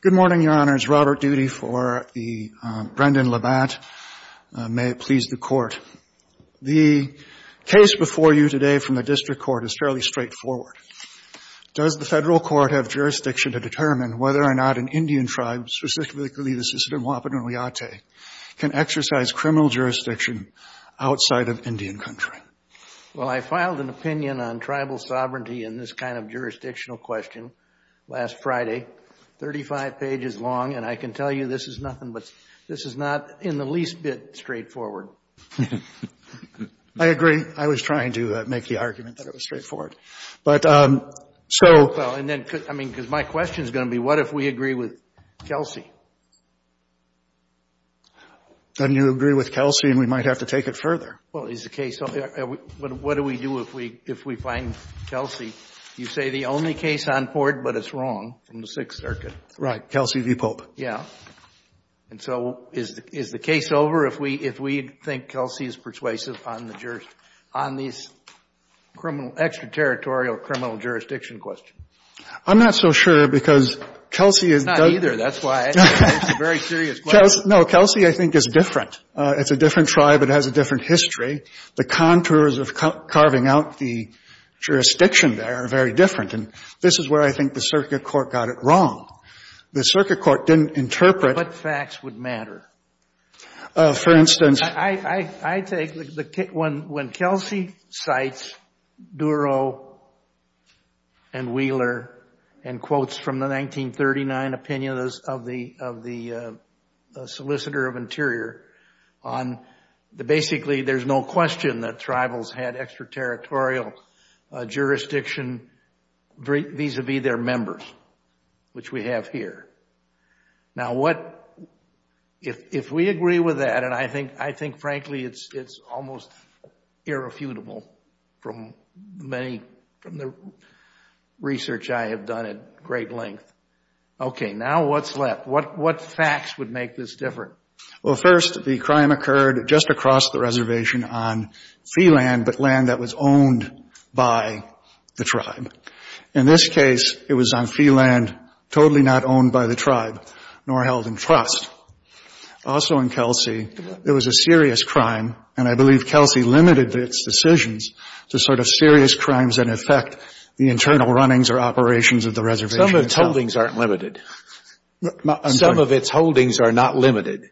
Good morning, Your Honors. Robert Doody for the Brendan LaBatte. May it please the Court. The case before you today from the district court is fairly straightforward. Does the federal court have jurisdiction to determine whether or not an Indian tribe, specifically the Sisseton Wahpeton Wiyate, can exercise criminal jurisdiction outside of Indian country? Well, I filed an opinion on tribal sovereignty in this kind of jurisdictional question last Friday. Thirty-five pages long, and I can tell you this is nothing but, this is not in the least bit straightforward. I agree. I was trying to make the argument that it was straightforward. But, um, so Well, and then, I mean, because my question is going to be, what if we agree with Kelsey? Then you agree with Kelsey, and we might have to take it further. Well, is the case over? What do we do if we find Kelsey? You say the only case on board, but it's wrong, from the Sixth Circuit. Right. Kelsey v. Pope. Yeah. And so, is the case over if we think Kelsey is persuasive on these extra-territorial criminal jurisdiction questions? I'm not so sure, because Kelsey is It's not either. That's why it's a very serious question. No, Kelsey, I think, is different. It's a different tribe. It has a different history. The contours of carving out the jurisdiction there are very different, and this is where I think the circuit court got it wrong. The circuit court didn't interpret What facts would matter? For instance I take the, when Kelsey cites Duro and Wheeler and quotes from the 1939 opinion of the Solicitor of Interior on the, basically, there's no question that tribals had extra-territorial jurisdiction vis-a-vis their members, which we have here. Now what, if we agree with that, and I think, frankly, it's almost irrefutable from many, from the research I have done at great length. Okay, now what's left? What facts would make this different? Well, first, the crime occurred just across the reservation on fee land, but land that was owned by the tribe. In this case, it was on fee land totally not owned by the tribe nor held in trust. Also in Kelsey, it was a serious crime, and I believe Kelsey limited its decisions to sort of serious crimes that affect the internal runnings or operations of the reservation. Some of its holdings aren't limited. Some of its holdings are not limited.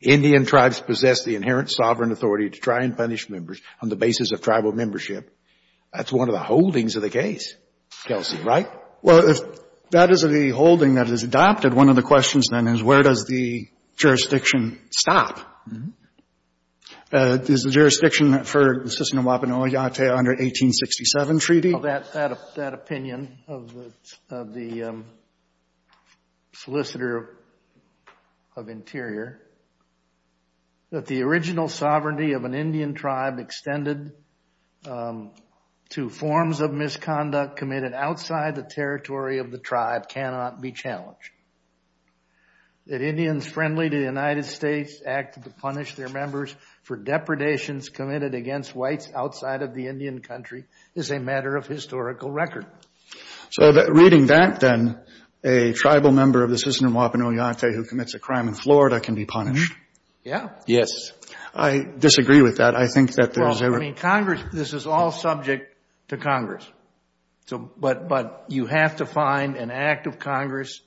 Indian tribes possess the inherent sovereign authority to try and punish members on the basis of tribal membership. That's one of the holdings of the case, Kelsey, right? Well, if that is the holding that is adopted, one of the questions then is where does the jurisdiction stop? Is the jurisdiction for the Sissanawapan Oyate under 1867 treaty? That opinion of the solicitor of interior, that the original sovereignty of an Indian territory of the tribe cannot be challenged. That Indians friendly to the United States acted to punish their members for depredations committed against whites outside of the Indian country is a matter of historical record. So reading that then, a tribal member of the Sissanawapan Oyate who commits a crime in Florida can be punished? Yeah. Yes. I disagree with that. I think that there's a... This is all subject to Congress, but you have to find an act of Congress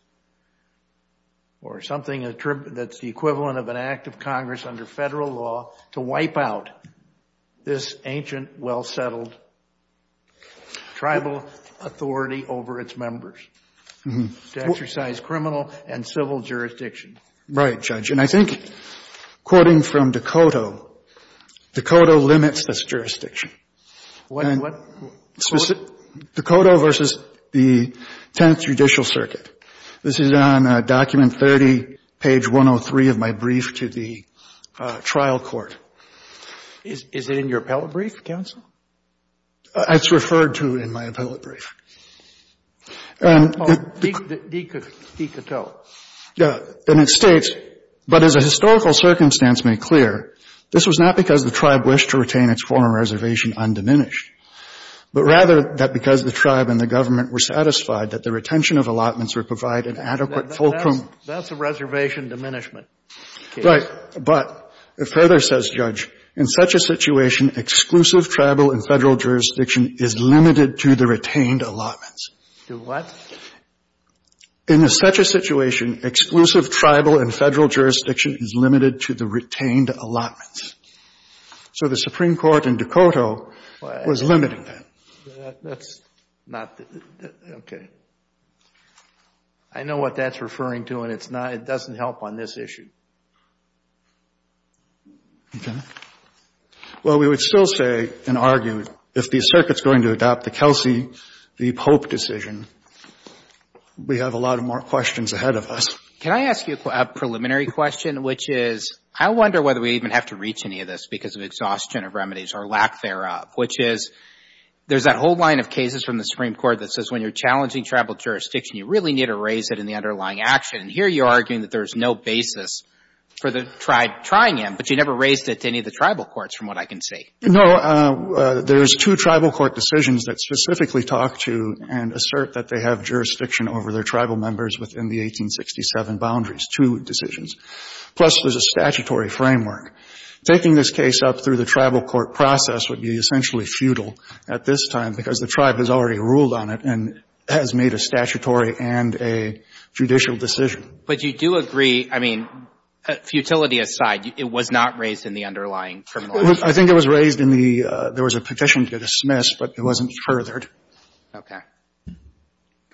or something that's the equivalent of an act of Congress under federal law to wipe out this ancient, well-settled tribal authority over its members to exercise criminal and civil jurisdiction. Right, Judge. And I think, quoting from DeCotto, DeCotto limits this jurisdiction. What? DeCotto versus the Tenth Judicial Circuit. This is on document 30, page 103 of my brief to the trial court. Is it in your appellate brief, counsel? It's referred to in my appellate brief. Oh, deCotto. Yeah. And it states, but as a historical circumstance may clear, this was not because the tribe wished to retain its former reservation undiminished, but rather that because the tribe and the government were satisfied that the retention of allotments would provide an adequate fulcrum. That's a reservation diminishment case. Right. But it further says, Judge, in such a situation, exclusive tribal and federal jurisdiction is limited to the retained allotments. To what? In such a situation, exclusive tribal and federal jurisdiction is limited to the retained allotments. So the Supreme Court in DeCotto was limiting that. That's not the — okay. I know what that's referring to, and it's not — it doesn't help on this issue. Okay. Well, we would still say and argue, if the Circuit's going to adopt the Kelsey v. Pope decision, we have a lot more questions ahead of us. Can I ask you a preliminary question, which is, I wonder whether we even have to reach any of this because of exhaustion of remedies or lack thereof, which is, there's that whole line of cases from the Supreme Court that says, when you're challenging tribal jurisdiction, you really need to raise it in the underlying action. And here you're arguing that there's no basis for the tribe trying him, but you never raised it to any of the tribal courts, from what I can see. No. There's two tribal court decisions that specifically talk to and assert that they have jurisdiction over their tribal members within the 1867 boundaries, two decisions. Plus, there's a statutory framework. Taking this case up through the tribal court process would be essentially futile at this time because the tribe has already ruled on it and has made a statutory and a judicial decision. But you do agree — I mean, futility aside, it was not raised in the underlying criminalization? I think it was raised in the — there was a petition to dismiss, but it wasn't furthered. Okay.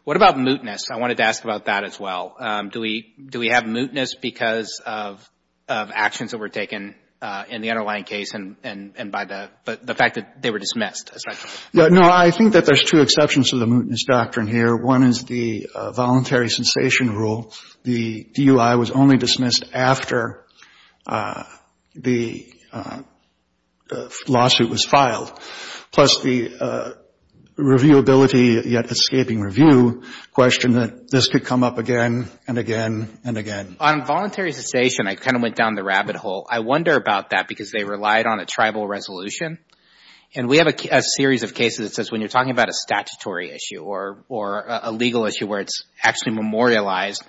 What about mootness? I wanted to ask about that as well. Do we — do we have mootness because of actions that were taken in the underlying case and by the — the fact that they were dismissed? No. I think that there's two exceptions to the mootness doctrine here. One is the voluntary cessation rule. The DUI was only dismissed after the lawsuit was filed. Plus, the reviewability yet escaping review question that this could come up again and again and again. On voluntary cessation, I kind of went down the rabbit hole. I wonder about that because they relied on a tribal resolution. And we have a series of cases that says when you're talking about a statutory issue or a legal issue where it's actually memorialized,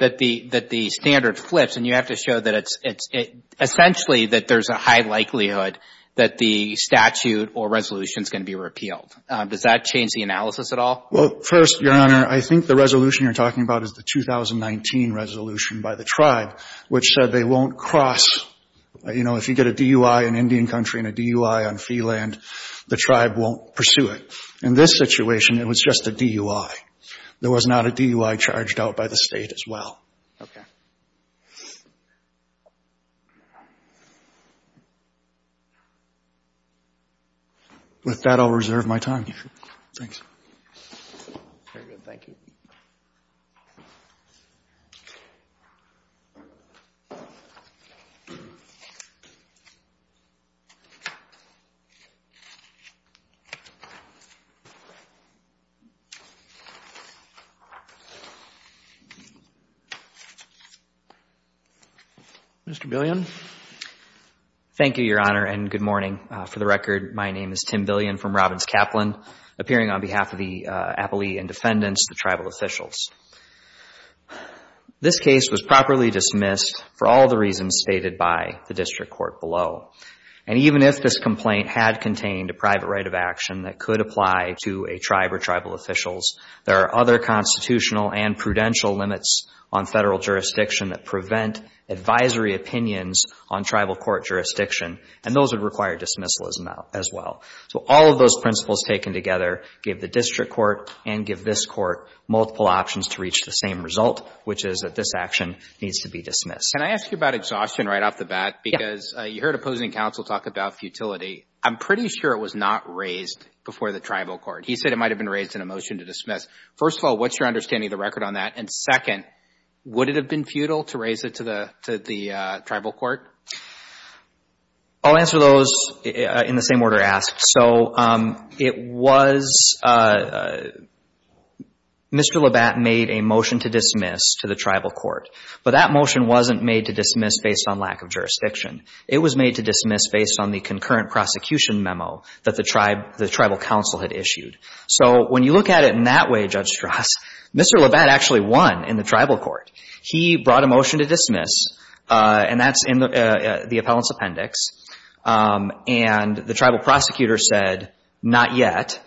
that the — that the standard flips. And you have to show that it's — it's — essentially that there's a high likelihood that the statute or resolution is going to be repealed. Does that change the analysis at all? Well, first, Your Honor, I think the resolution you're talking about is the 2019 resolution by the tribe, which said they won't cross — you know, if you get a DUI in Indian country and a DUI on fee land, the tribe won't pursue it. In this situation, it was just a DUI. There was not a DUI charged out by the state as well. Okay. With that, I'll reserve my time. Thanks. Very good. Thank you. Mr. Billion. Thank you, Your Honor, and good morning. For the record, my name is Tim Billion from Robbins-Kaplan, appearing on behalf of the appellee and defendants, the tribal officials. This case was properly dismissed for all the reasons stated by the district court below. And even if this complaint had contained a private right of action that could apply to a tribe or tribal officials, there are other reasons that the district court has other constitutional and prudential limits on federal jurisdiction that prevent advisory opinions on tribal court jurisdiction. And those would require dismissal as well. So all of those principles taken together give the district court and give this court multiple options to reach the same result, which is that this action needs to be Can I ask you about exhaustion right off the bat? Because you heard opposing counsel talk about futility. I'm pretty sure it was not raised before the tribal court. He said it might have been raised in a motion to dismiss. First of all, what's your understanding of the record on that? And second, would it have been futile to raise it to the tribal court? I'll answer those in the same order asked. So it was, Mr. Labatt made a motion to dismiss to the tribal court, but that motion wasn't made to dismiss based on lack of jurisdiction. It was made to dismiss based on the concurrent prosecution memo that the tribe, the tribal counsel had issued. So when you look at it in that way, Judge Strauss, Mr. Labatt actually won in the tribal court. He brought a motion to dismiss, and that's in the appellant's appendix. And the tribal prosecutor said not yet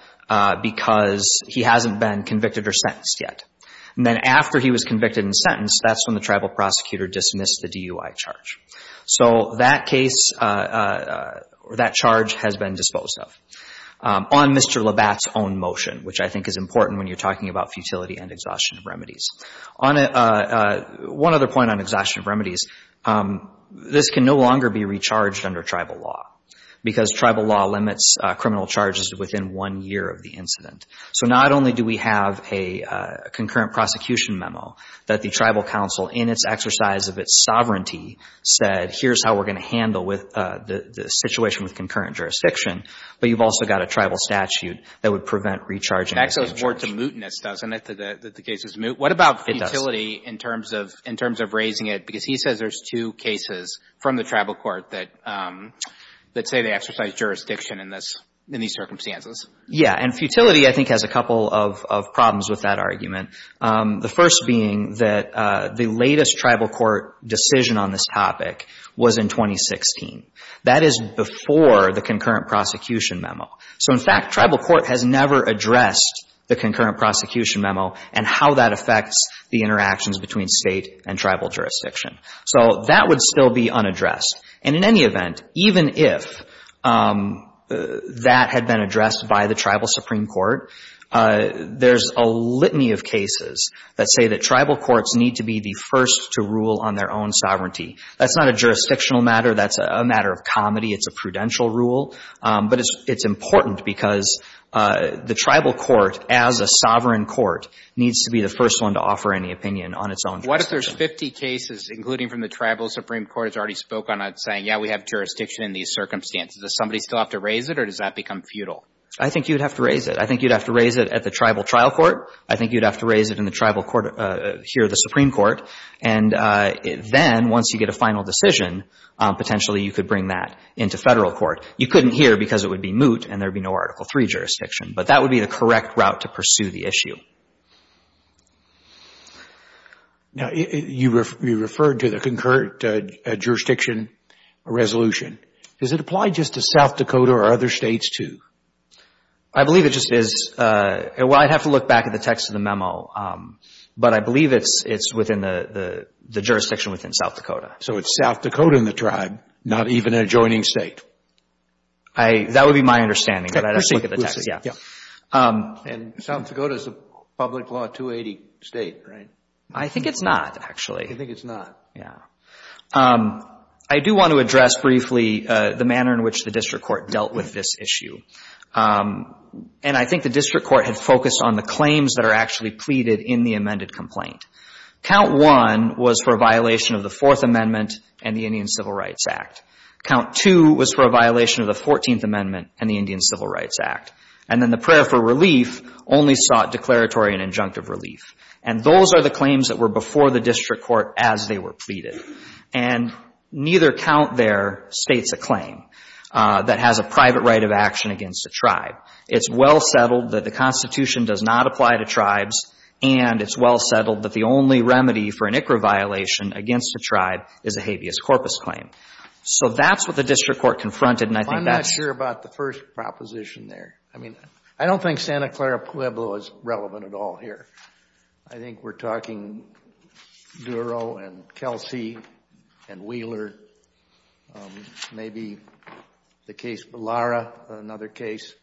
because he hasn't been convicted or sentenced yet. And then after he was convicted and sentenced, that's when the tribal prosecutor dismissed the DUI charge. So that case, that charge has been disposed of on Mr. Labatt's own motion, which I think is important when you're talking about futility and exhaustion of remedies. On one other point on exhaustion of remedies, this can no longer be recharged under tribal law because tribal law limits criminal charges within one year of the incident. So not only do we have a concurrent prosecution memo that the tribal counsel in its exercise of its sovereignty said, here's how we're going to handle with the situation with concurrent jurisdiction, but you've also got a tribal statute that would prevent recharging. That's a word to mootness, doesn't it, that the case is moot? What about futility in terms of in terms of raising it? Because he says there's two cases from the tribal court that that say they exercise jurisdiction in this, in these circumstances. Yeah. And futility, I think, has a couple of problems with that argument. The first being that the latest tribal court decision on this topic was in 2016. That is before the concurrent prosecution memo. So, in fact, tribal court has never addressed the concurrent prosecution memo and how that affects the interactions between state and tribal jurisdiction. So that would still be unaddressed. And in any event, even if that had been addressed by the tribal Supreme Court, there's a litany of cases that say that tribal courts need to be the first to rule on their own sovereignty. That's not a jurisdictional matter. That's a matter of comedy. It's a prudential rule. But it's important because the tribal court, as a sovereign court, needs to be the first one to offer any opinion on its own. What if there's 50 cases, including from the tribal Supreme Court, has already spoken on saying, yeah, we have jurisdiction in these circumstances? Does somebody still have to raise it or does that become futile? I think you'd have to raise it. I think you'd have to raise it at the tribal trial court. I think you'd have to raise it in the tribal court here, the Supreme Court. And then once you get a final decision, potentially you could bring that into federal court. You couldn't here because it would be moot and there'd be no Article III jurisdiction. But that would be the correct route to pursue the issue. Now, you referred to the concurrent jurisdiction resolution. Does it apply just to South Dakota or other states, too? I believe it just is. Well, I'd have to look back at the text of the memo. But I believe it's within the jurisdiction within South Dakota. So it's South Dakota in the tribe, not even an adjoining state. That would be my understanding. And South Dakota is a public law 280 state, right? I think it's not, actually. I think it's not. I do want to address briefly the manner in which the district court dealt with this issue. And I think the district court had focused on the claims that are actually pleaded in the amended complaint. Count 1 was for a violation of the Fourth Amendment and the Indian Civil Rights Act. Count 2 was for a violation of the Fourteenth Amendment and the Indian Civil Rights Act. And then the prayer for relief only sought declaratory and injunctive relief. And those are the claims that were before the district court as they were pleaded. And neither count there states a claim that has a private right of action against a tribe. It's well settled that the Constitution does not apply to tribes. And it's well settled that the only remedy for an ICRA violation against a tribe is a habeas corpus claim. So that's what the district court confronted. And I think that's. I'm not sure about the first proposition there. I mean, I don't think Santa Clara Pueblo is relevant at all here. I think we're talking Duro and Kelsey and Wheeler. Maybe the case Bellara, another case.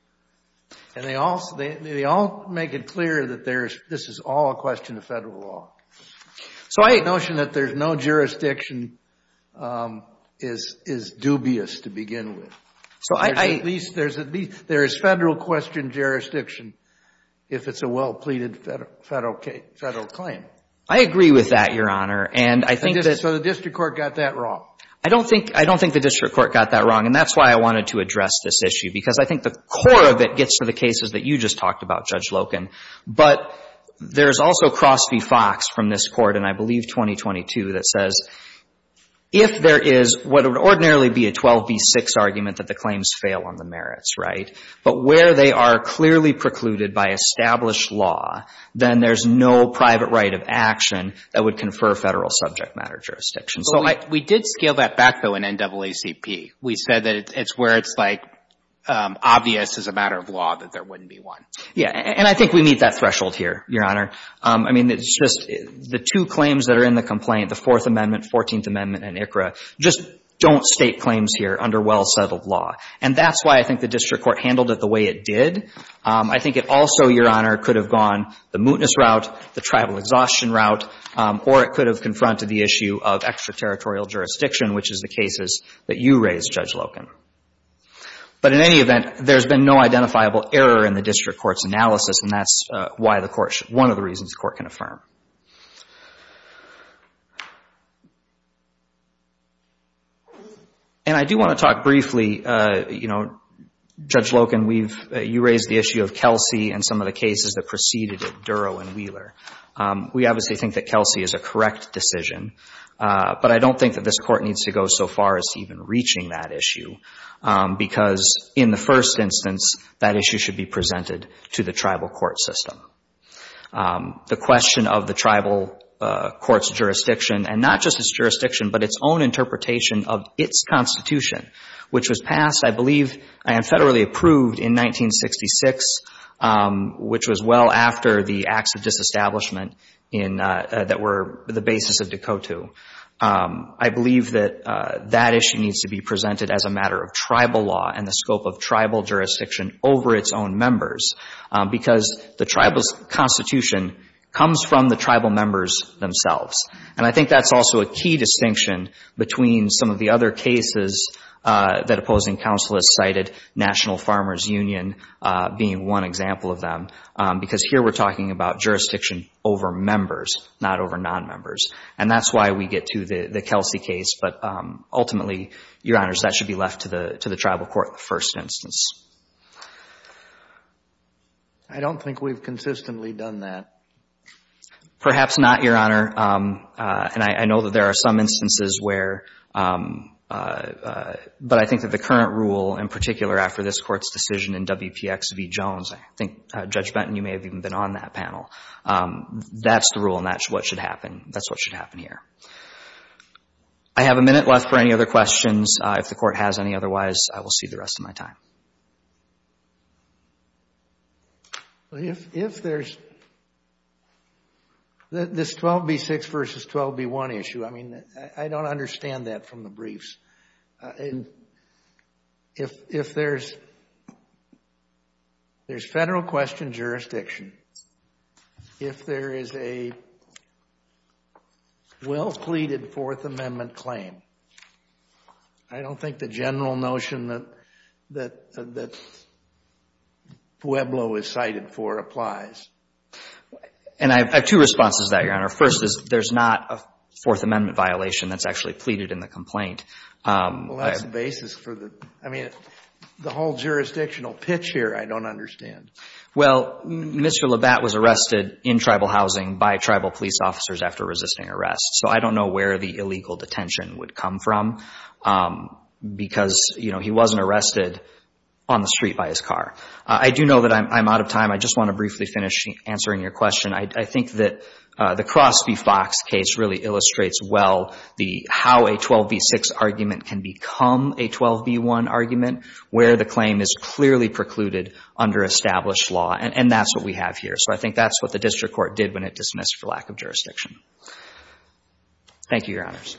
And they all make it clear that this is all a question of federal law. So the notion that there's no jurisdiction is dubious to begin with. So there is federal question jurisdiction if it's a well pleaded federal claim. I agree with that, Your Honor. And I think that. So the district court got that wrong? I don't think I don't think the district court got that wrong. And that's why I wanted to address this issue, because I think the core of it gets to the cases that you just talked about, Judge Loken. But there is also Crosby-Fox from this court, and I believe 2022, that says if there is what would ordinarily be a 12B6 argument that the claims fail on the merits. Right. But where they are clearly precluded by established law, then there's no private right of action that would confer federal subject matter jurisdiction. So we did scale that back, though, in NAACP. We said that it's where it's like obvious as a matter of law that there wouldn't be one. Yeah. And I think we meet that threshold here, Your Honor. I mean, it's just the two claims that are in the complaint, the Fourth Amendment, Fourteenth Amendment and ICRA, just don't state claims here under well settled law. And that's why I think the district court handled it the way it did. I think it also, Your Honor, could have gone the mootness route, the tribal exhaustion route, or it could have confronted the issue of extraterritorial jurisdiction, which is the cases that you raised, Judge Loken. But in any event, there's been no identifiable error in the district court's analysis, and that's why the court, one of the reasons the court can affirm. And I do want to talk briefly, you know, Judge Loken, we've, you raised the issue of Kelsey and some of the cases that preceded it, Duro and Wheeler. We obviously think that Kelsey is a correct decision, but I don't think that this court needs to go so far as even reaching that issue, because in the first instance, that issue should be presented to the tribal court system. The question of whether or not the district court is going to be able to do that, that is a question of the tribal court's jurisdiction, and not just its jurisdiction, but its own interpretation of its constitution, which was passed, I believe, and federally approved in 1966, which was well after the acts of disestablishment in, that were the basis of Dekotu. I believe that that issue needs to be presented as a matter of tribal law and the scope of tribal jurisdiction over its own members, because the tribal's constitution comes from the tribal members themselves. And I think that's also a key distinction between some of the other cases that opposing counsel has cited, National Farmers Union being one example of them, because here we're talking about jurisdiction over members, not over nonmembers. And that's why we get to the Kelsey case, but ultimately, Your Honors, that should be left to the tribal court in the first instance. I don't think we've consistently done that. Perhaps not, Your Honor. And I know that there are some instances where, but I think that the current rule, in particular, after this Court's decision in WPX v. Jones, I think, Judge Benton, you may have even been on that panel. That's the rule, and that's what should happen. That's what should happen here. I have a minute left for any other questions. If the Court has any otherwise, I will see the rest of my time. If there's this 12B6 v. 12B1 issue, I mean, I don't understand that from the briefs. If there's federal question jurisdiction, if there is a well-pleated Fourth Amendment claim, I don't think the general notion that Pueblo is cited for applies. And I have two responses to that, Your Honor. First is there's not a Fourth Amendment violation that's actually pleaded in the complaint. Well, that's the basis for the, I mean, the whole jurisdictional pitch here I don't understand. Well, Mr. Labatt was arrested in tribal housing by tribal police officers after resisting arrest. So I don't know where the illegal detention would come from because, you know, he wasn't arrested on the street by his car. I do know that I'm out of time. I just want to briefly finish answering your question. I think that the Crosby-Fox case really illustrates well how a 12B6 argument can become a 12B1 argument where the claim is clearly precluded under established law, and that's what we have here. So I think that's what the district court did when it dismissed for lack of jurisdiction. Thank you, Your Honors.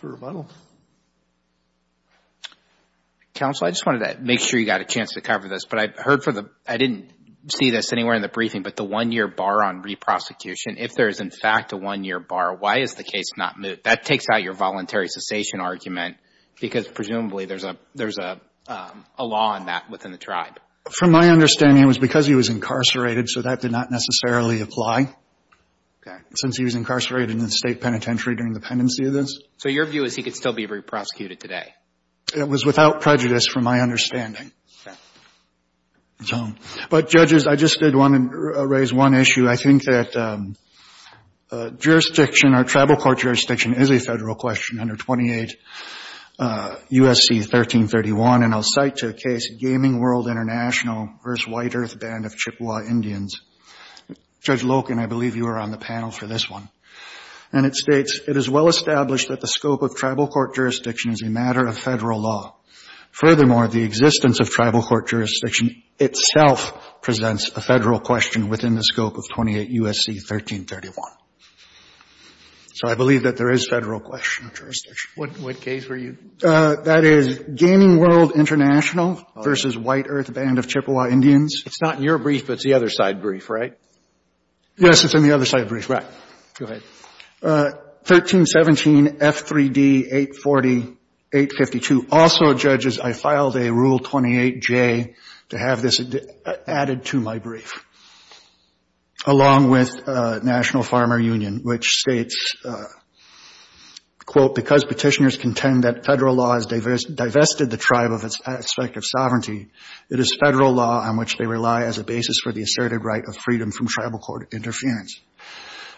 For rebuttal. Counsel, I just wanted to make sure you got a chance to cover this, but I heard for the, I didn't see this anywhere in the briefing, but the one-year bar on re-prosecution, if there is in fact a one-year bar, why is the case not moved? That takes out your voluntary cessation argument because presumably there's a law on that within the tribe. From my understanding, it was because he was incarcerated, so that did not necessarily apply. Okay. Since he was incarcerated in the state penitentiary during the pendency of this. So your view is he could still be re-prosecuted today? It was without prejudice from my understanding. But, judges, I just did want to raise one issue. I think that jurisdiction or tribal court jurisdiction is a federal question under 28 U.S.C. 1331, and I'll cite to the case Gaming World International v. White Earth Band of Chippewa Indians. Judge Loken, I believe you were on the panel for this one. And it states, it is well established that the scope of tribal court jurisdiction is a matter of federal law. Furthermore, the existence of tribal court jurisdiction itself presents a federal question within the scope of 28 U.S.C. 1331. So I believe that there is federal question of jurisdiction. What case were you? That is Gaming World International v. White Earth Band of Chippewa Indians. It's not in your brief, but it's the other side brief, right? Yes, it's in the other side brief. Right. Go ahead. 1317 F3D 840-852. Also, judges, I filed a Rule 28J to have this added to my brief, along with National Farmer Union, which states, quote, because petitioners contend that federal law has divested the tribe of its aspect of sovereignty, it is federal law on which they rely as a basis for the asserted right of freedom from tribal court interference.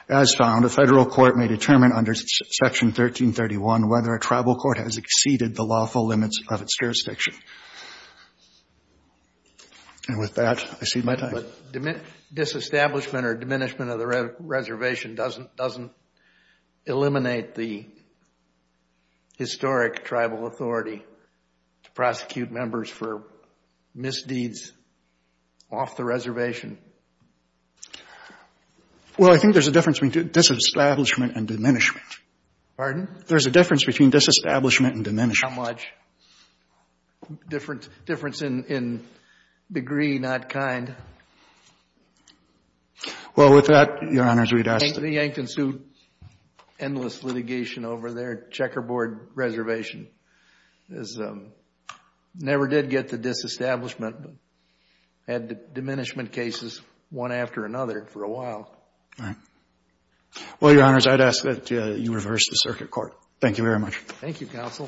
As found, a federal court may determine under Section 1331 whether a tribal court has exceeded the lawful limits of its jurisdiction. And with that, I cede my time. But disestablishment or diminishment of the reservation doesn't eliminate the historic tribal authority to prosecute members for misdeeds off the reservation? Well, I think there's a difference between disestablishment and diminishment. Pardon? There's a difference between disestablishment and diminishment. How much difference in degree, not kind? Well, with that, Your Honors, we'd ask that. The Yankton Sioux endless litigation over there, Checkerboard Reservation, never did get to disestablishment. Had diminishment cases one after another for a while. All right. Well, Your Honors, I'd ask that you reverse the circuit court. Thank you very much. Thank you, Counsel.